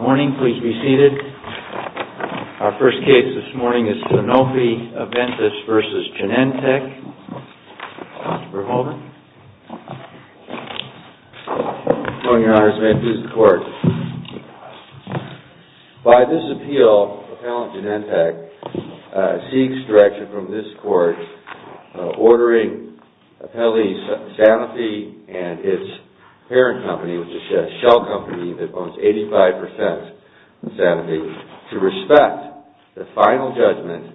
Morning. Please be seated. Our first case this morning is SANOFI-AVENTIS v. GENENTECH. Dr. Verhoeven. Good morning, Your Honors. May it please the Court. By this appeal, Appellant Genentech seeks direction from this Court ordering Appellee SANOFI and its parent company, which is Shell Company, that owns 85% of SANOFI, to respect the final judgment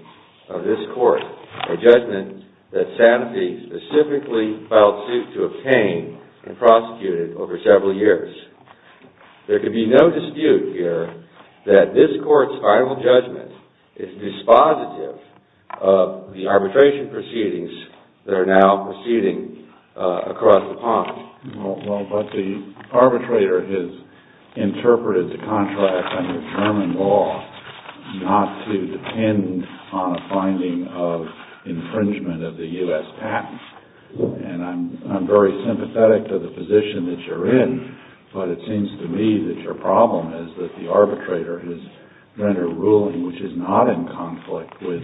of this Court, a judgment that SANOFI specifically filed suit to obtain and prosecuted over several years. There can be no dispute here that this Court's final judgment is dispositive of the arbitration proceedings that are now proceeding across the pond. Well, but the arbitrator has interpreted the contract under German law not to depend on a finding of infringement of the U.S. patents. And I'm very sympathetic to the position that it seems to me that your problem is that the arbitrator has rendered a ruling which is not in conflict with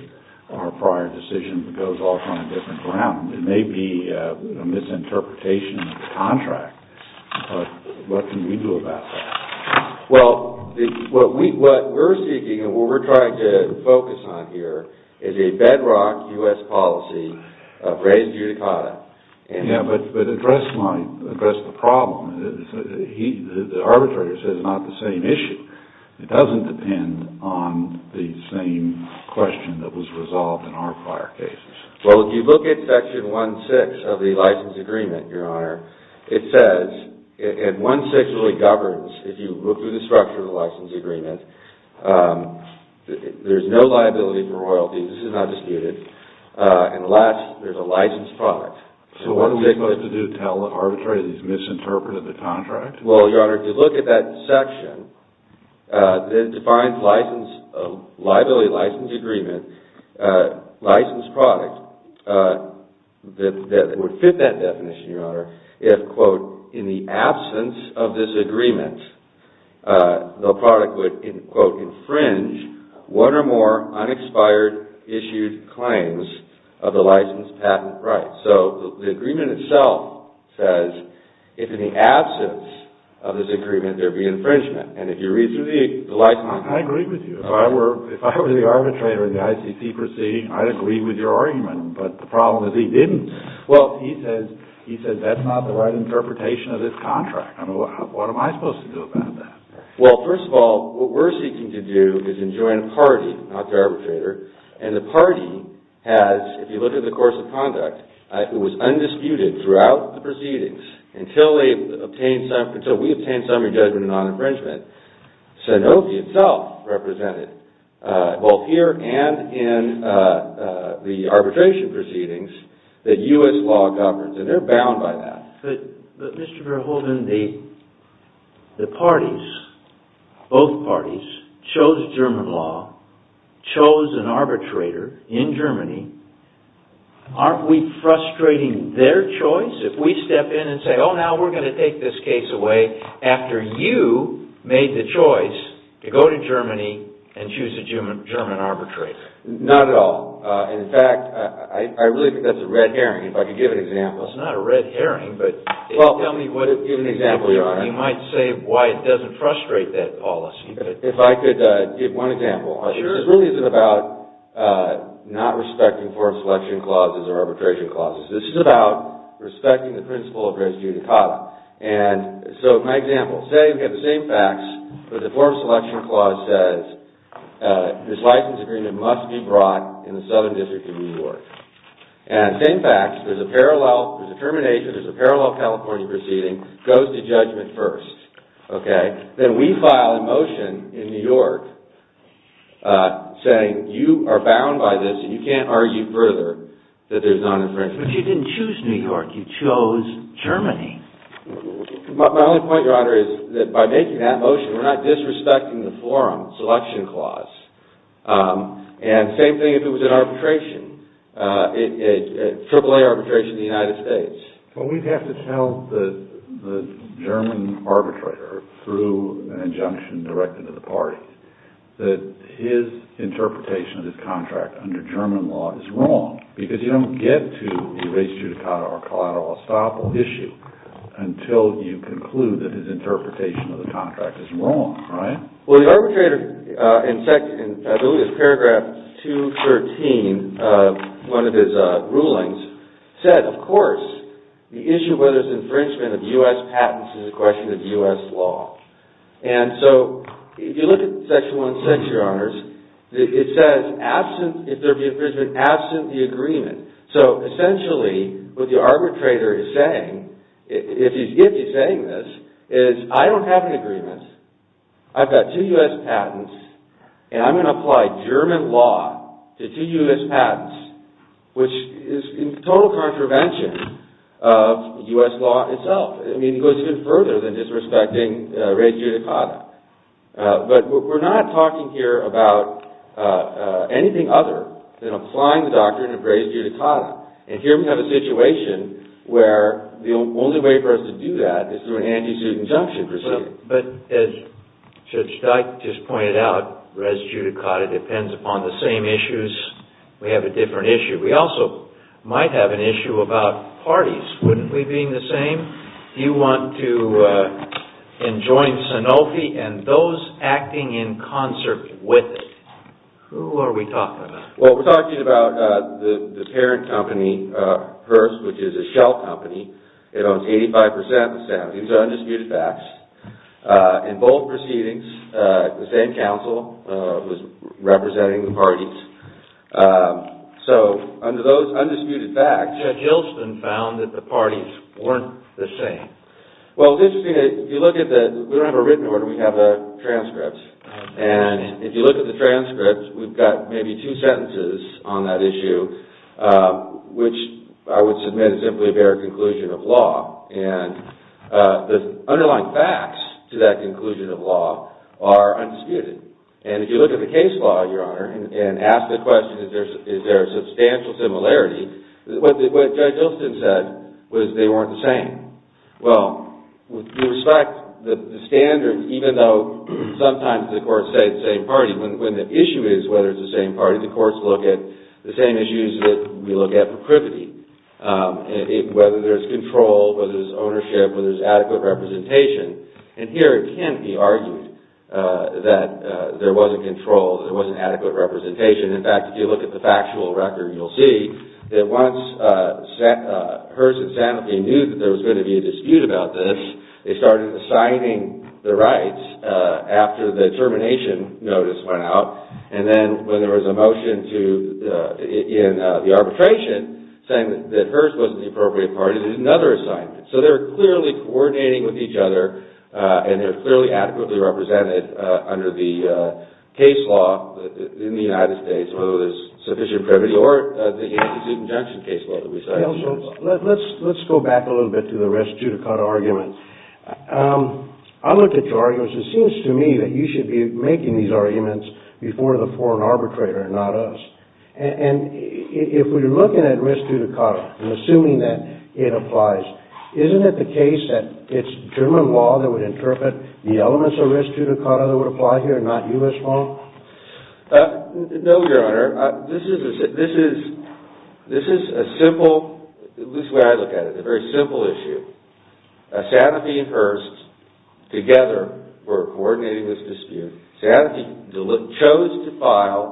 our prior decision that goes off on a different ground. It may be a misinterpretation of the contract, but what can we do about that? Well, what we're seeking and what we're trying to focus on here is a bedrock U.S. policy of res judicata. Yeah, but address the problem. The arbitrator says it's not the same issue. It doesn't depend on the same question that was resolved in our prior cases. Well, if you look at Section 1.6 of the License Agreement, Your Honor, it says, and 1.6 really governs, if you look through the structure of the License Agreement, there's no liability for royalties. This is not disputed. And last, there's a licensed product. So what are we supposed to do to tell the arbitrator that he's misinterpreted the contract? Well, Your Honor, if you look at that section that defines liability license agreement, licensed product, that would fit that definition, Your Honor, if, quote, in the absence of this agreement, there be infringement. And if you read through the License Agreement... I agree with you. If I were the arbitrator in the ICC proceeding, I'd agree with your argument, but the problem is he didn't. Well, he says that's not the right interpretation of this contract. I mean, what am I supposed to do about that? Well, first of all, what we're seeking to do is enjoin a party, not the arbitrator, and the party has, if you look at the course of conduct, it was undisputed throughout the proceedings until we obtained summary judgment and non-infringement. Sanofi itself represented both here and in the arbitration proceedings that U.S. law governs, and they're bound by that. But Mr. Verhoeven, the parties, both parties, chose German law, chose an arbitrator in Germany. Aren't we frustrating their choice if we step in and say, oh, now we're going to take this case away after you made the choice to go to Germany and choose a German arbitrator? Not at all. In fact, I really think that's a red herring, if I could give an example. It's not a red herring, but tell me what it is. Give an example, Your Honor. You might say why it doesn't frustrate that policy. If I could give one example. Sure. This really isn't about not respecting form selection clauses or arbitration clauses. This is about respecting the principle of res judicata. And so my example, say we have the same facts, but the form selection clause says this license agreement must be brought in the Southern District of New York. And same facts, there's a parallel, there's a termination, there's a parallel California proceeding, goes to judgment first. Okay? Then we file a motion in New York saying you are bound by this and you can't argue further that there's not infringement. But you didn't choose New York. You chose Germany. My only point, Your Honor, is that by making that motion, we're not disrespecting the form selection clause. And same thing if it was an arbitration, a AAA arbitration in the United States. But we'd have to tell the German arbitrator through an injunction directed to the party that his interpretation of his contract under German law is wrong, because you don't get to the res judicata or collateral estoppel issue until you conclude that his interpretation of the contract is wrong, right? Well, the arbitrator in paragraph 213 of one of his rulings said, of course, the issue of whether it's infringement of U.S. patents is a question of U.S. law. And so if you look at section 106, Your Honors, it says, if there be infringement, absent the agreement. So essentially, what the arbitrator is saying, if he's saying this, is I don't have an agreement. I've got two U.S. patents, and I'm going to apply German law to two U.S. patents, which is in total contravention of U.S. law itself. I mean, it goes even further than disrespecting res judicata. But we're not talking here about anything other than applying the doctrine of res judicata. And here we have a situation where the only way for us to do that is through an anti-suit injunction procedure. But as Judge Dyke just pointed out, res judicata depends upon the same issues. We have a different issue. We also might have an issue about parties, wouldn't we, being the same? You want to enjoin Sanofi and those acting in concert with it. Who are we talking about? Well, we're talking about the parent company, Hearst, which is a shell company. It owns 85% of Sanofi. These are undisputed facts. In both proceedings, the same counsel was representing the parties. So under those undisputed facts... Judge Hilston found that the parties weren't the same. Well, it's interesting. If you look at the... We don't have a written order. We have a transcript. And if you look at the transcript, we've got maybe two sentences on that issue, which I would submit is simply a bare conclusion of law. And the underlying facts to that conclusion of law are undisputed. And if you look at the case law, Your Honor, and ask the question, is there a substantial similarity, what Judge Hilston said was they weren't the same. Well, we respect the standards, even though sometimes the courts say the same party. When the issue is whether it's the same party, the courts look at the same issues that we have, whether there's control, whether there's ownership, whether there's adequate representation. And here it can be argued that there wasn't control, that there wasn't adequate representation. In fact, if you look at the factual record, you'll see that once Hearst and Sanofi knew that there was going to be a dispute about this, they started assigning the rights after the termination notice went out. And then when there was a motion in the arbitration saying that Hearst wasn't the appropriate party, they did another assignment. So they're clearly coordinating with each other, and they're clearly adequately represented under the case law in the United States, whether there's sufficient privity or the anti-dispute injunction case law that we cited in court. Now, so let's go back a little bit to the res judicata argument. I looked at your arguments. It seems to me that you should be making these arguments before the foreign arbitrator, not us. And if we're looking at res judicata and assuming that it applies, isn't it the case that it's German law that would interpret the elements of res judicata that would apply here, not U.S. law? No, Your Honor. This is a simple, at least the way I look at it, a very simple issue. Sanofi and Hearst, together, were coordinating this dispute. Sanofi chose to file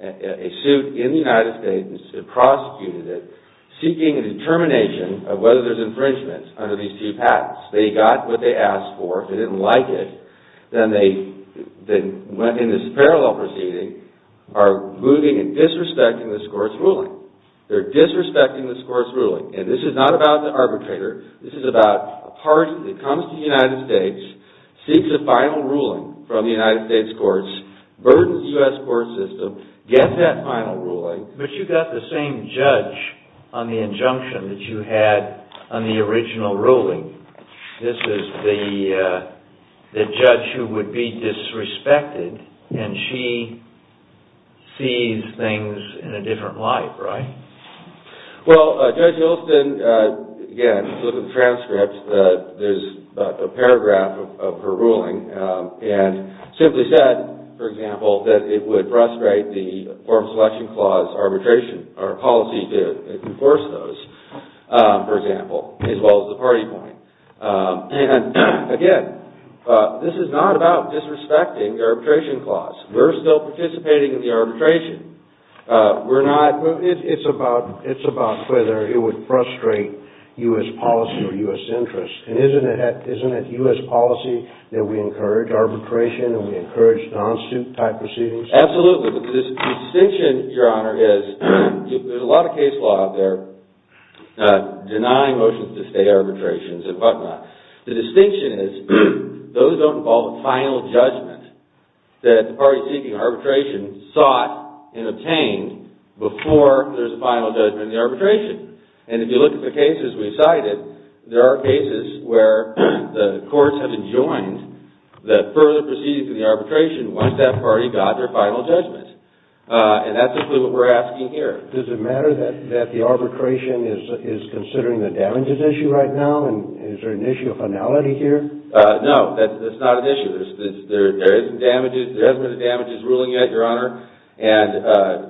a suit in the United States and prosecuted it, seeking a determination of whether there's infringement under these two patents. They got what they asked for. If they didn't like it, then in this parallel proceeding, are moving and disrespecting this court's ruling. They're disrespecting this court's ruling. And this is not about the arbitrator. This is about a person that comes to the United States, seeks a final ruling from the United States courts, burdens the U.S. court system, gets that final ruling. But you got the same judge on the injunction that you had on the original ruling. This is the judge who would be disrespected, and she sees things in a different light, right? Well, Judge Hylston, again, looking at the transcript, there's a paragraph of her ruling and simply said, for example, that it would frustrate the form selection clause arbitration or policy to enforce those, for example, as well as the party point. And again, this is not about disrespecting the arbitration clause. We're still participating in the arbitration. It's about whether it would frustrate U.S. policy or U.S. interests. And isn't it U.S. policy that we encourage arbitration and we encourage non-suit type proceedings? Absolutely. The distinction, Your Honor, is there's a lot of case law out there denying motions to stay arbitrations and whatnot. The distinction is those don't involve a final judgment that the party seeking arbitration sought and obtained before there's a final judgment in the arbitration. And if you look at the cases we cited, there are cases where the courts have enjoined the further proceedings in the arbitration once that party got their final judgment. And that's simply what we're asking here. Does it matter that the arbitration is considering the damages issue right now? And is there an issue of finality here? No, that's not an issue. There hasn't been a damages ruling yet, Your Honor. And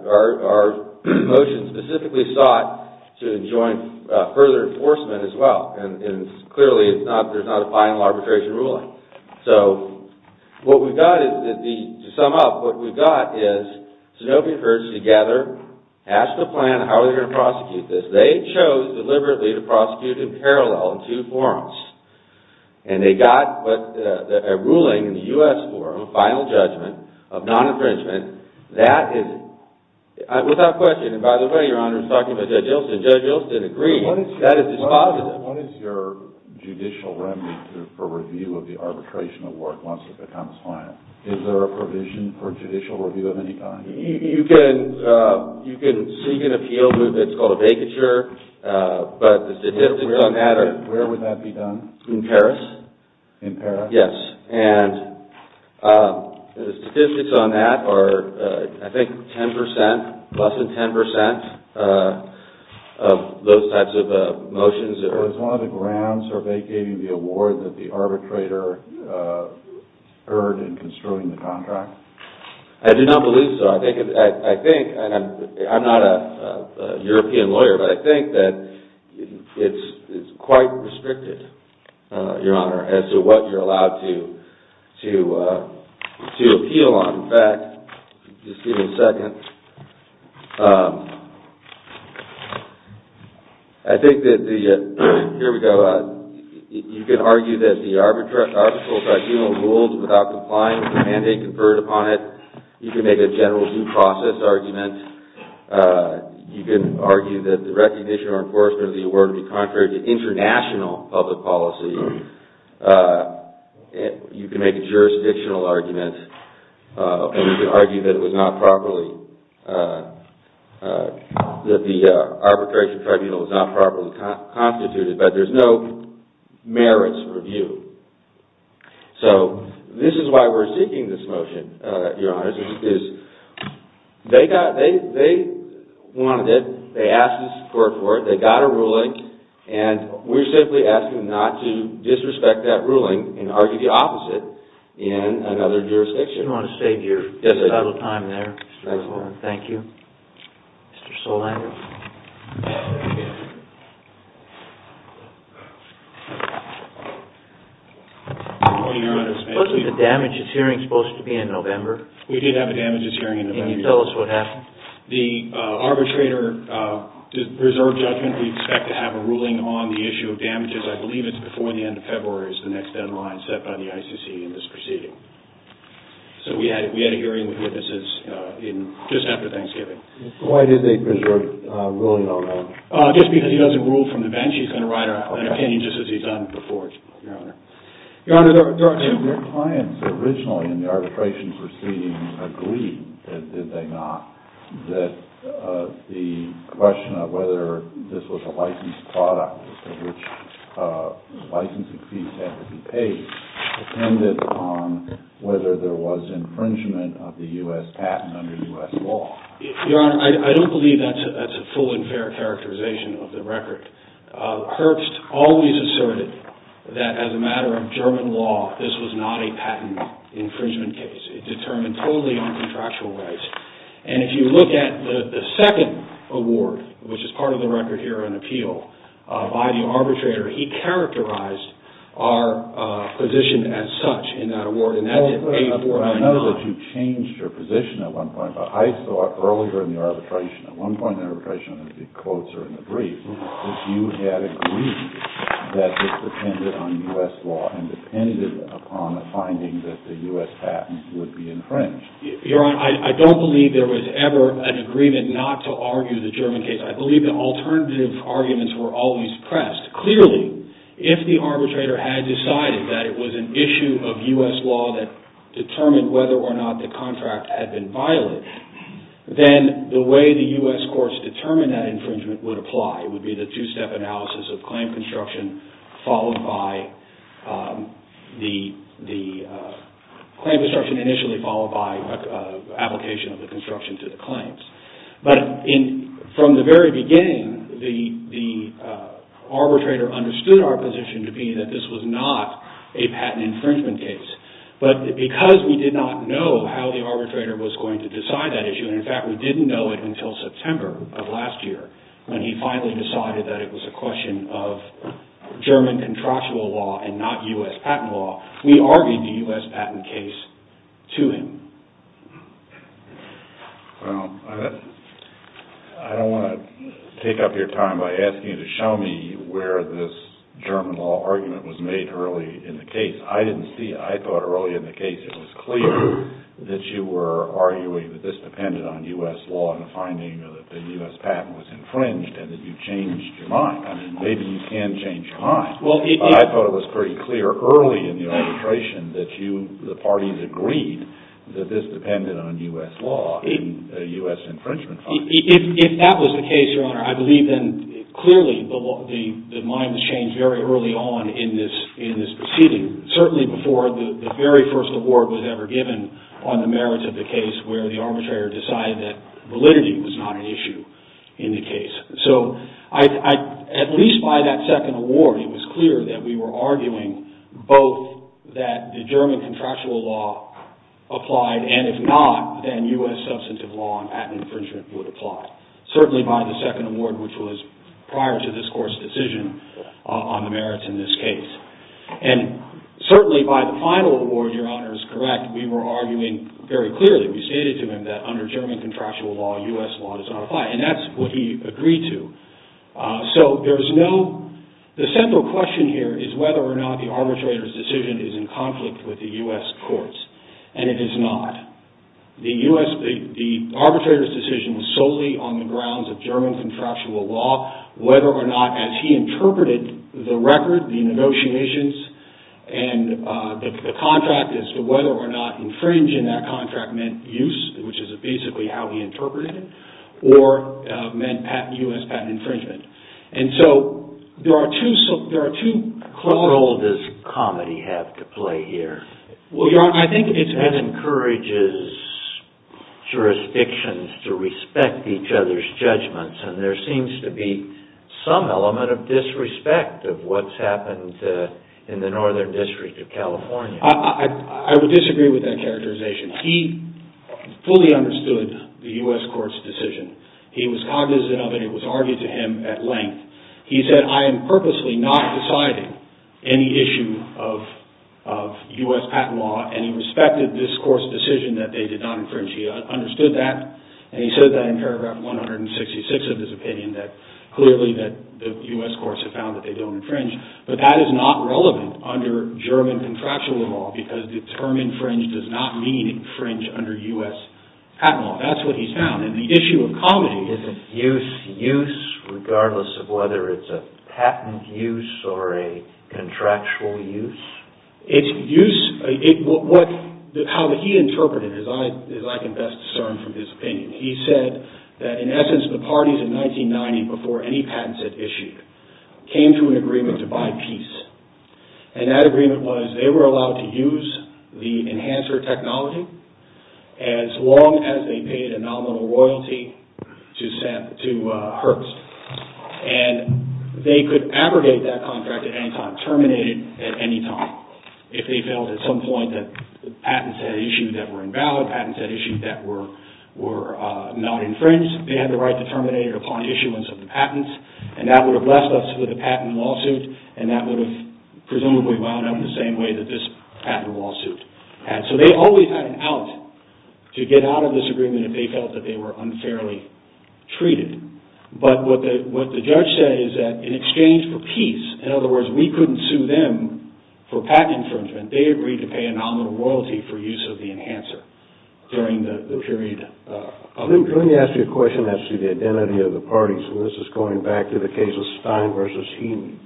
our motion specifically sought to enjoin further enforcement as well. And clearly, there's not a final arbitration ruling. So what we've got is, to sum up, what we've got is Sanofi and Hertz together asked the plan how they're going to prosecute this. They chose deliberately to prosecute in parallel in two forums. And they got a ruling in the U.S. forum, a final judgment of non-infringement. That is, without question, and by the way, Your Honor, I'm talking about Judge Ilson. Judge Ilson agreed. That is dispositive. What is your judicial remedy for review of the arbitration of work once it becomes final? Is there a provision for judicial review of any kind? You can seek an appeal. It's called a vacature. Where would that be done? In Paris. In Paris? Yes. And the statistics on that are, I think, 10%, less than 10% of those types of motions. Was one of the grounds for vacating the award that the arbitrator heard in construing the contract? I do not believe so. I think, and I'm not a European lawyer, but I think that it's quite restricted, Your Honor, as to what you're allowed to appeal on. In fact, just give me a second. I think that the, here we go, you can argue that the arbitral tribunal rules without complying with the mandate conferred upon it. You can make a general due process argument. You can argue that the recognition or enforcement of the award would be contrary to international public policy. You can make a jurisdictional argument, and you can argue that it was not properly, that the arbitration tribunal was not properly constituted, but there's no merits review. So, this is why we're seeking this motion, Your Honor, is they wanted it, they asked the court for it, they got a ruling, and we're simply asking not to disrespect that ruling and argue the opposite in another jurisdiction. I just want to save your subtle time there. Thank you. Mr. Solang? Wasn't the damages hearing supposed to be in November? We did have a damages hearing in November. Can you tell us what happened? The arbitrator reserved judgment. We expect to have a ruling on the issue of damages. I believe it's before the end of February is the next deadline set by the ICC in this proceeding. So, we had a hearing with witnesses just after Thanksgiving. Why did they preserve a ruling on that? Just because he doesn't rule from the bench, he's going to write an opinion just as he's done before, Your Honor. Your Honor, there are two clients originally in the arbitration proceeding who agreed, did they not, that the question of whether this was a licensed product for which licensing fees had to be paid depended on whether there was infringement of the U.S. patent under U.S. law. Your Honor, I don't believe that's a full and fair characterization of the record. Herbst always asserted that as a matter of German law, this was not a patent infringement case. It was determined totally on contractual rights. And if you look at the second award, which is part of the record here on appeal, by the arbitrator, he characterized our position as such in that award. I know that you changed your position at one point, but I thought earlier in the arbitration, at one point in the arbitration, and the quotes are in the brief, that you had agreed that this depended on U.S. law and depended upon the finding that the U.S. patent would be infringed. Your Honor, I don't believe there was ever an agreement not to argue the German case. I believe the alternative arguments were always pressed. Clearly, if the arbitrator had decided that it was an issue of U.S. law that determined whether or not the contract had been violated, then the way the U.S. courts determined that infringement would apply. would be the two-step analysis of claim construction, initially followed by application of the construction to the claims. But from the very beginning, the arbitrator understood our position to be that this was not a patent infringement case. But because we did not know how the arbitrator was going to decide that issue, and in fact, we didn't know it until September of last year, when he finally decided that it was a question of German contractual law and not U.S. patent law, we argued the U.S. patent case to him. Well, I don't want to take up your time by asking you to show me where this German law argument was made early in the case. I didn't see it. I thought early in the case, it was clear that you were arguing that this depended on U.S. law and the finding that the U.S. patent was infringed and that you changed your mind. I mean, maybe you can change your mind. I thought it was pretty clear early in the arbitration that you, the parties, agreed that this depended on U.S. law and U.S. infringement findings. If that was the case, Your Honor, I believe, then, clearly the mind was changed very early on in this proceeding, certainly before the very first award was ever given on the merits of the case where the arbitrator decided that validity was not an issue in the case. So, at least by that second award, it was clear that we were arguing both that the German contractual law applied, and if not, then U.S. substantive law and patent infringement would apply, certainly by the second award, which was prior to this Court's decision on the merits in this case. And certainly by the final award, Your Honor is correct, we were arguing very clearly, we stated to him, that under German contractual law, U.S. law does not apply, and that's what he agreed to. So, there's no... The central question here is whether or not the arbitrator's decision is in conflict with the U.S. Court's, and it is not. The arbitrator's decision was solely on the grounds of German contractual law, whether or not, as he interpreted the record, the negotiations, and the contract as to whether or not infringing that contract meant use, which is basically how he interpreted it, or meant U.S. patent infringement. And so, there are two... What role does comedy have to play here? Well, Your Honor, I think it's... That encourages jurisdictions to respect each other's judgments, and there seems to be some element of disrespect of what's happened in the Northern District of California. I would disagree with that characterization. He fully understood the U.S. Court's decision. He was cognizant of it, it was argued to him at length. He said, I am purposely not deciding any issue of U.S. patent law, and he respected this Court's decision that they did not infringe. He understood that, and he said that in paragraph 166 of his opinion, that clearly the U.S. Courts have found that they don't infringe. But that is not relevant under German contractual law, because the term infringe does not mean infringe under U.S. patent law. That's what he's found. And the issue of comedy... Is it use, use, regardless of whether it's a patent use or a contractual use? It's use... How he interpreted it, as I can best discern from his opinion. He said that, in essence, the parties in 1990, before any patents had issued, came to an agreement to buy peace. And that agreement was, they were allowed to use the enhancer technology as long as they paid a nominal royalty to Herbst. And they could abrogate that contract at any time, terminate it at any time. If they felt at some point that patents had issued that were invalid, patents had issued that were not infringed, they had the right to terminate it upon issuance of the patents. And that would have left us with a patent lawsuit, and that would have presumably wound up the same way that this patent lawsuit had. So they always had an out to get out of this agreement if they felt that they were unfairly treated. But what the judge said is that, in exchange for peace, in other words, we couldn't sue them for patent infringement, they agreed to pay a nominal royalty for use of the enhancer during the period. Let me ask you a question as to the identity of the parties. And this is going back to the case of Stein v. Heaton,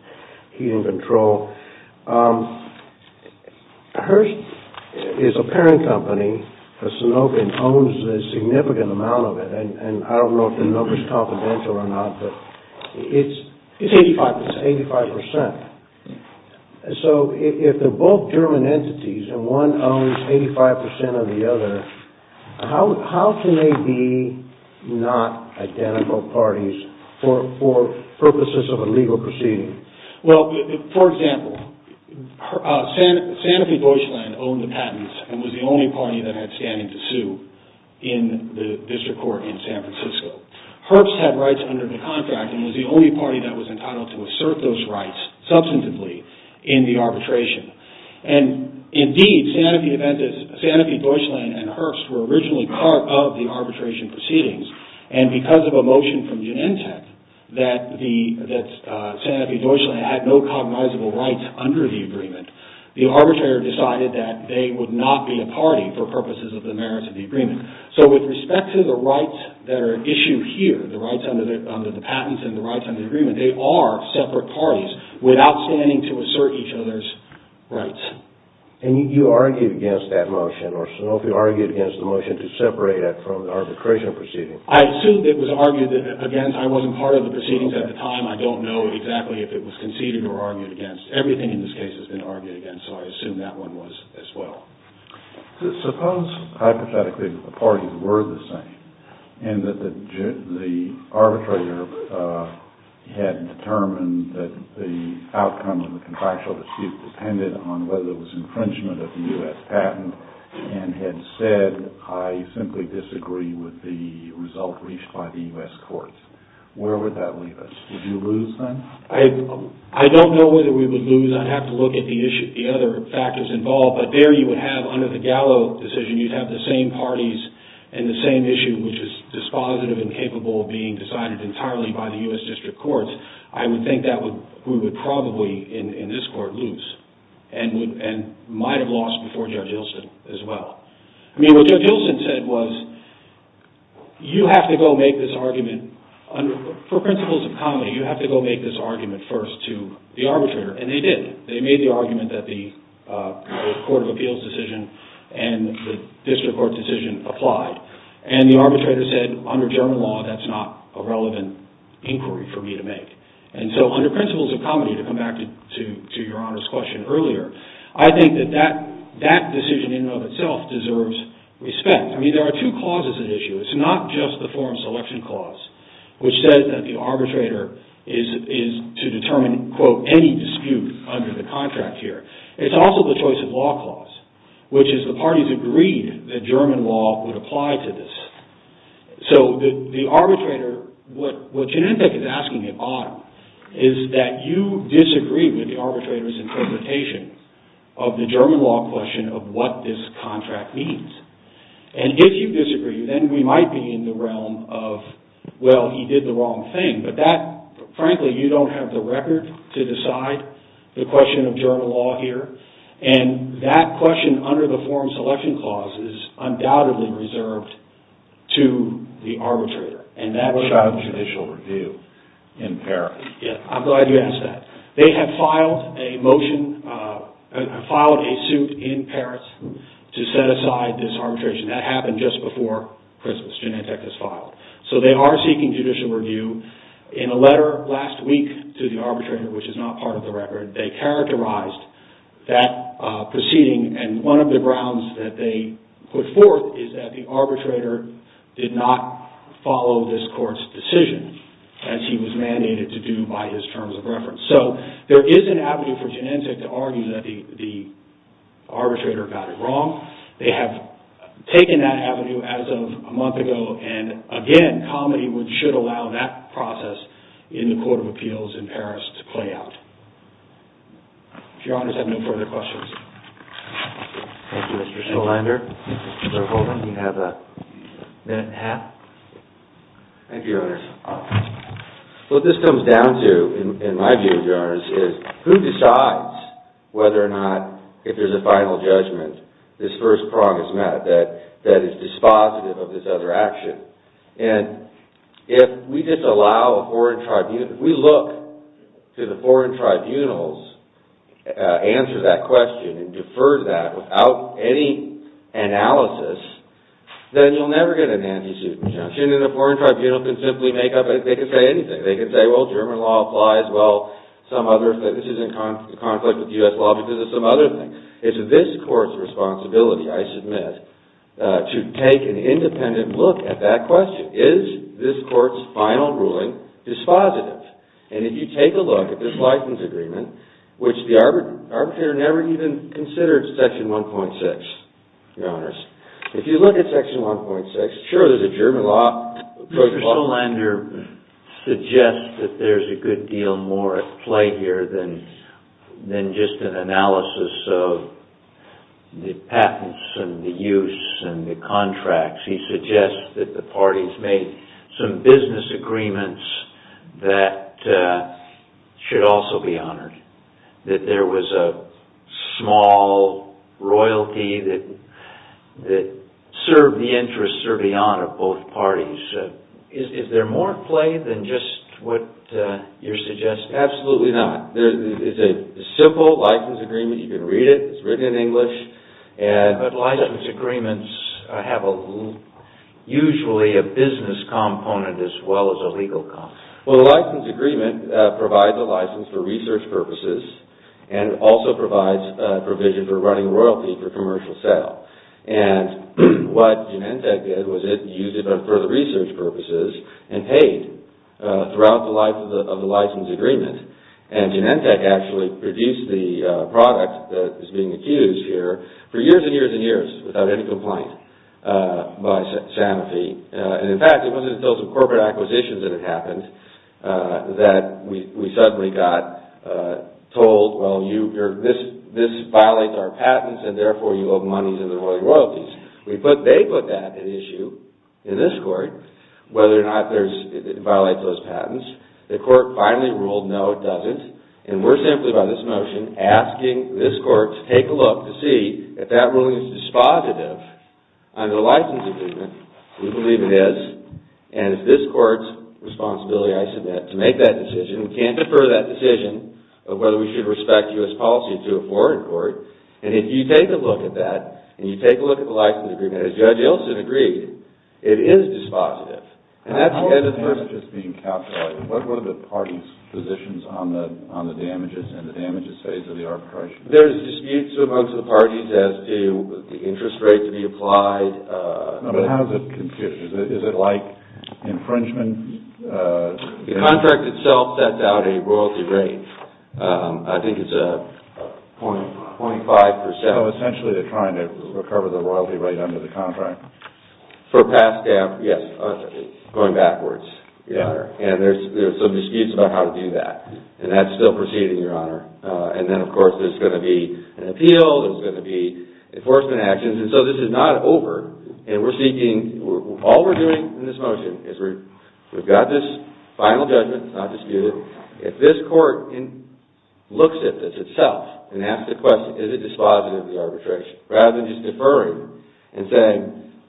Heaton Control. Herbst is a parent company for Sanofi and owns a significant amount of it. And I don't know if the number is confidential or not, but it's 85%. So if they're both German entities and one owns 85% of the other, how can they be not identical parties for purposes of a legal proceeding? Well, for example, Sanofi Deutschland owned the patents and was the only party that had standing to sue in the district court in San Francisco. Herbst had rights under the contract and was the only party that was entitled to assert those rights substantively in the arbitration. And indeed, Sanofi Deutschland and Herbst were originally part of the arbitration proceedings, and because of a motion from Genentech that Sanofi Deutschland had no cognizable rights under the agreement, the arbitrator decided that they would not be a party for purposes of the merits of the agreement. So with respect to the rights that are at issue here, the rights under the patents and the rights under the agreement, they are separate parties without standing to assert each other's rights. And you argued against that motion, or Sanofi argued against the motion to separate it from the arbitration proceedings. I assumed it was argued against. I wasn't part of the proceedings at the time. I don't know exactly if it was conceded or argued against. Everything in this case has been argued against, so I assume that one was as well. Suppose hypothetically that the parties were the same and that the arbitrator had determined that the outcome of the contractual dispute depended on whether it was infringement of the U.S. patent and had said, I simply disagree with the result reached by the U.S. courts. Where would that leave us? Would you lose then? I don't know whether we would lose. I'd have to look at the other factors involved. But there you would have, under the Gallo decision, you'd have the same parties and the same issue, which is dispositive and capable of being decided entirely by the U.S. district courts. I would think that we would probably, in this court, lose and might have lost before Judge Ilsen as well. I mean, what Judge Ilsen said was, you have to go make this argument for principles of comedy. You have to go make this argument first to the arbitrator. And they did. They made the argument that the court of appeals decision and the district court decision applied. And the arbitrator said, under general law, that's not a relevant inquiry for me to make. And so under principles of comedy, to come back to Your Honor's question earlier, I think that that decision in and of itself deserves respect. I mean, there are two clauses at issue. It's not just the forum selection clause, which says that the arbitrator is to determine, quote, any dispute under the contract here. It's also the choice of law clause, which is the parties agreed that German law would apply to this. So the arbitrator, what Genentech is asking at bottom, is that you disagree with the arbitrator's interpretation of the German law question of what this contract means. And if you disagree, then we might be in the realm of, well, he did the wrong thing. But that, frankly, you don't have the record to decide the question of German law here. And that question, under the forum selection clause, is undoubtedly reserved to the arbitrator. I'm glad you asked that. They have filed a suit in Paris to set aside this arbitration. That happened just before Christmas. Genentech has filed. So they are seeking judicial review. In a letter last week to the arbitrator, which is not part of the record, they characterized that proceeding. And one of the grounds that they put forth is that the arbitrator did not follow this court's decision, as he was mandated to do by his terms of reference. So there is an avenue for Genentech to argue that the arbitrator got it wrong. They have taken that avenue as of a month ago. And again, comedy should allow that process in the Court of Appeals in Paris to play out. If Your Honors have no further questions. Thank you, Mr. Schillander. Mr. Holman, you have a minute and a half. Thank you, Your Honors. What this comes down to, in my view, Your Honors, is who decides whether or not, if there's a final judgment, this first prong is met that is dispositive of this other action. And if we just allow a foreign tribunal, if we look to the foreign tribunals to answer that question and defer that without any analysis, then you'll never get an anti-suit injunction. An injunction in a foreign tribunal can simply make up a... They can say anything. They can say, well, German law applies, well, some other... This is in conflict with U.S. law because of some other things. It's this Court's responsibility, I submit, to take an independent look at that question. Is this Court's final ruling dispositive? And if you take a look at this license agreement, which the arbitrator never even considered Section 1.6, Your Honors, if you look at Section 1.6, sure, there's a German law... Mr. Solander suggests that there's a good deal more at play here than just an analysis of the patents and the use and the contracts. He suggests that the parties made some business agreements that should also be honored, that there was a small royalty that served the interests or beyond of both parties. Is there more at play than just what you're suggesting? Absolutely not. It's a simple license agreement. You can read it. It's written in English. But license agreements have usually a business component as well as a legal component. Well, the license agreement provides a license for research purposes and also provides provisions for running royalty for commercial sale. And what Genentech did was it used it for research purposes and paid throughout the life of the license agreement. And Genentech actually produced the product that is being accused here for years and years and years without any complaint by Sanofi. And in fact, it wasn't until some corporate acquisitions that it happened that we suddenly got told, well, this violates our patents and therefore you owe money to the royalties. They put that at issue in this court, whether or not it violates those patents. The court finally ruled no, it doesn't. And we're simply by this motion asking this court to take a look to see if that ruling is dispositive under the license agreement. We believe it is. And it's this court's responsibility, I submit, to make that decision. We can't defer that decision of whether we should respect U.S. policy to a foreign court. And if you take a look at that and you take a look at the license agreement, as Judge Ilson agreed, it is dispositive. And that's the end of the matter. How are the damages being calculated? What are the parties' positions on the damages and the damages phase of the arbitration? There's disputes amongst the parties as to the interest rate to be applied. But how is it computed? Is it like infringement? The contract itself sets out a royalty rate. I think it's 0.5%. So essentially they're trying to recover the royalty rate under the contract. For past staff, yes, going backwards, Your Honor. And there's some disputes about how to do that. And that's still proceeding, Your Honor. And then, of course, there's going to be an appeal. There's going to be enforcement actions. And so this is not over. And we're seeking ñ all we're doing in this motion is we've got this final judgment. It's not disputed. If this court looks at this itself and asks the question, is it dispositive of the arbitration, rather than just deferring and saying,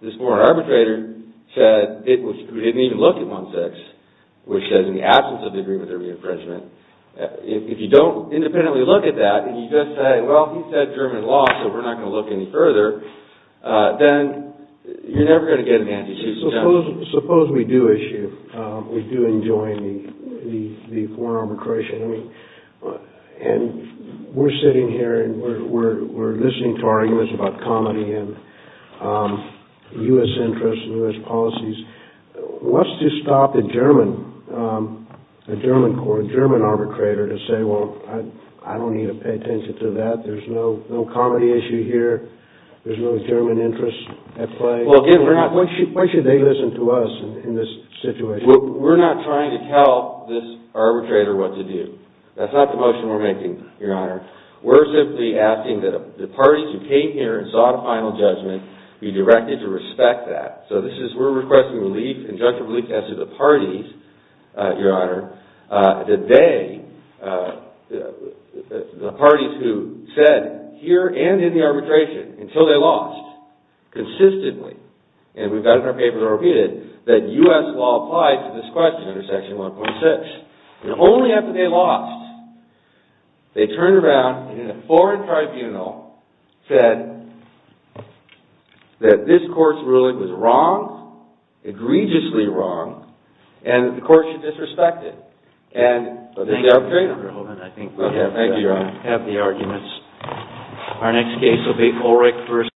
this foreign arbitrator said it was ñ who didn't even look at 1-6, which says in the absence of the agreement there'd be infringement. If you don't independently look at that and you just say, well, he said German law, so we're not going to look any further, then you're never going to get an antecedent. Suppose we do issue ñ we do enjoin the foreign arbitration. I mean, and we're sitting here and we're listening to arguments about comedy and U.S. interests and U.S. policies. What's to stop a German court, a German arbitrator, to say, well, I don't need to pay attention to that. There's no comedy issue here. There's no German interest at play. Well, again, we're not ñ why should they listen to us in this situation? We're not trying to tell this arbitrator what to do. That's not the motion we're making, Your Honor. We're simply asking that the parties who came here and saw the final judgment be directed to respect that. So this is ñ we're requesting relief, conjunctive relief, as to the parties, Your Honor, that they ñ the parties who said here and in the arbitration, until they lost consistently, and we've got it in our papers and repeated, that U.S. law applies to this question under Section 1.6. And only after they lost, they turned around and in a foreign tribunal said that this court's ruling was wrong, egregiously wrong, and the court should disrespect it. And the arbitrator ñ Well, thank you, Your Honor. I think we have the arguments. Our next case will be Kohlreich vs.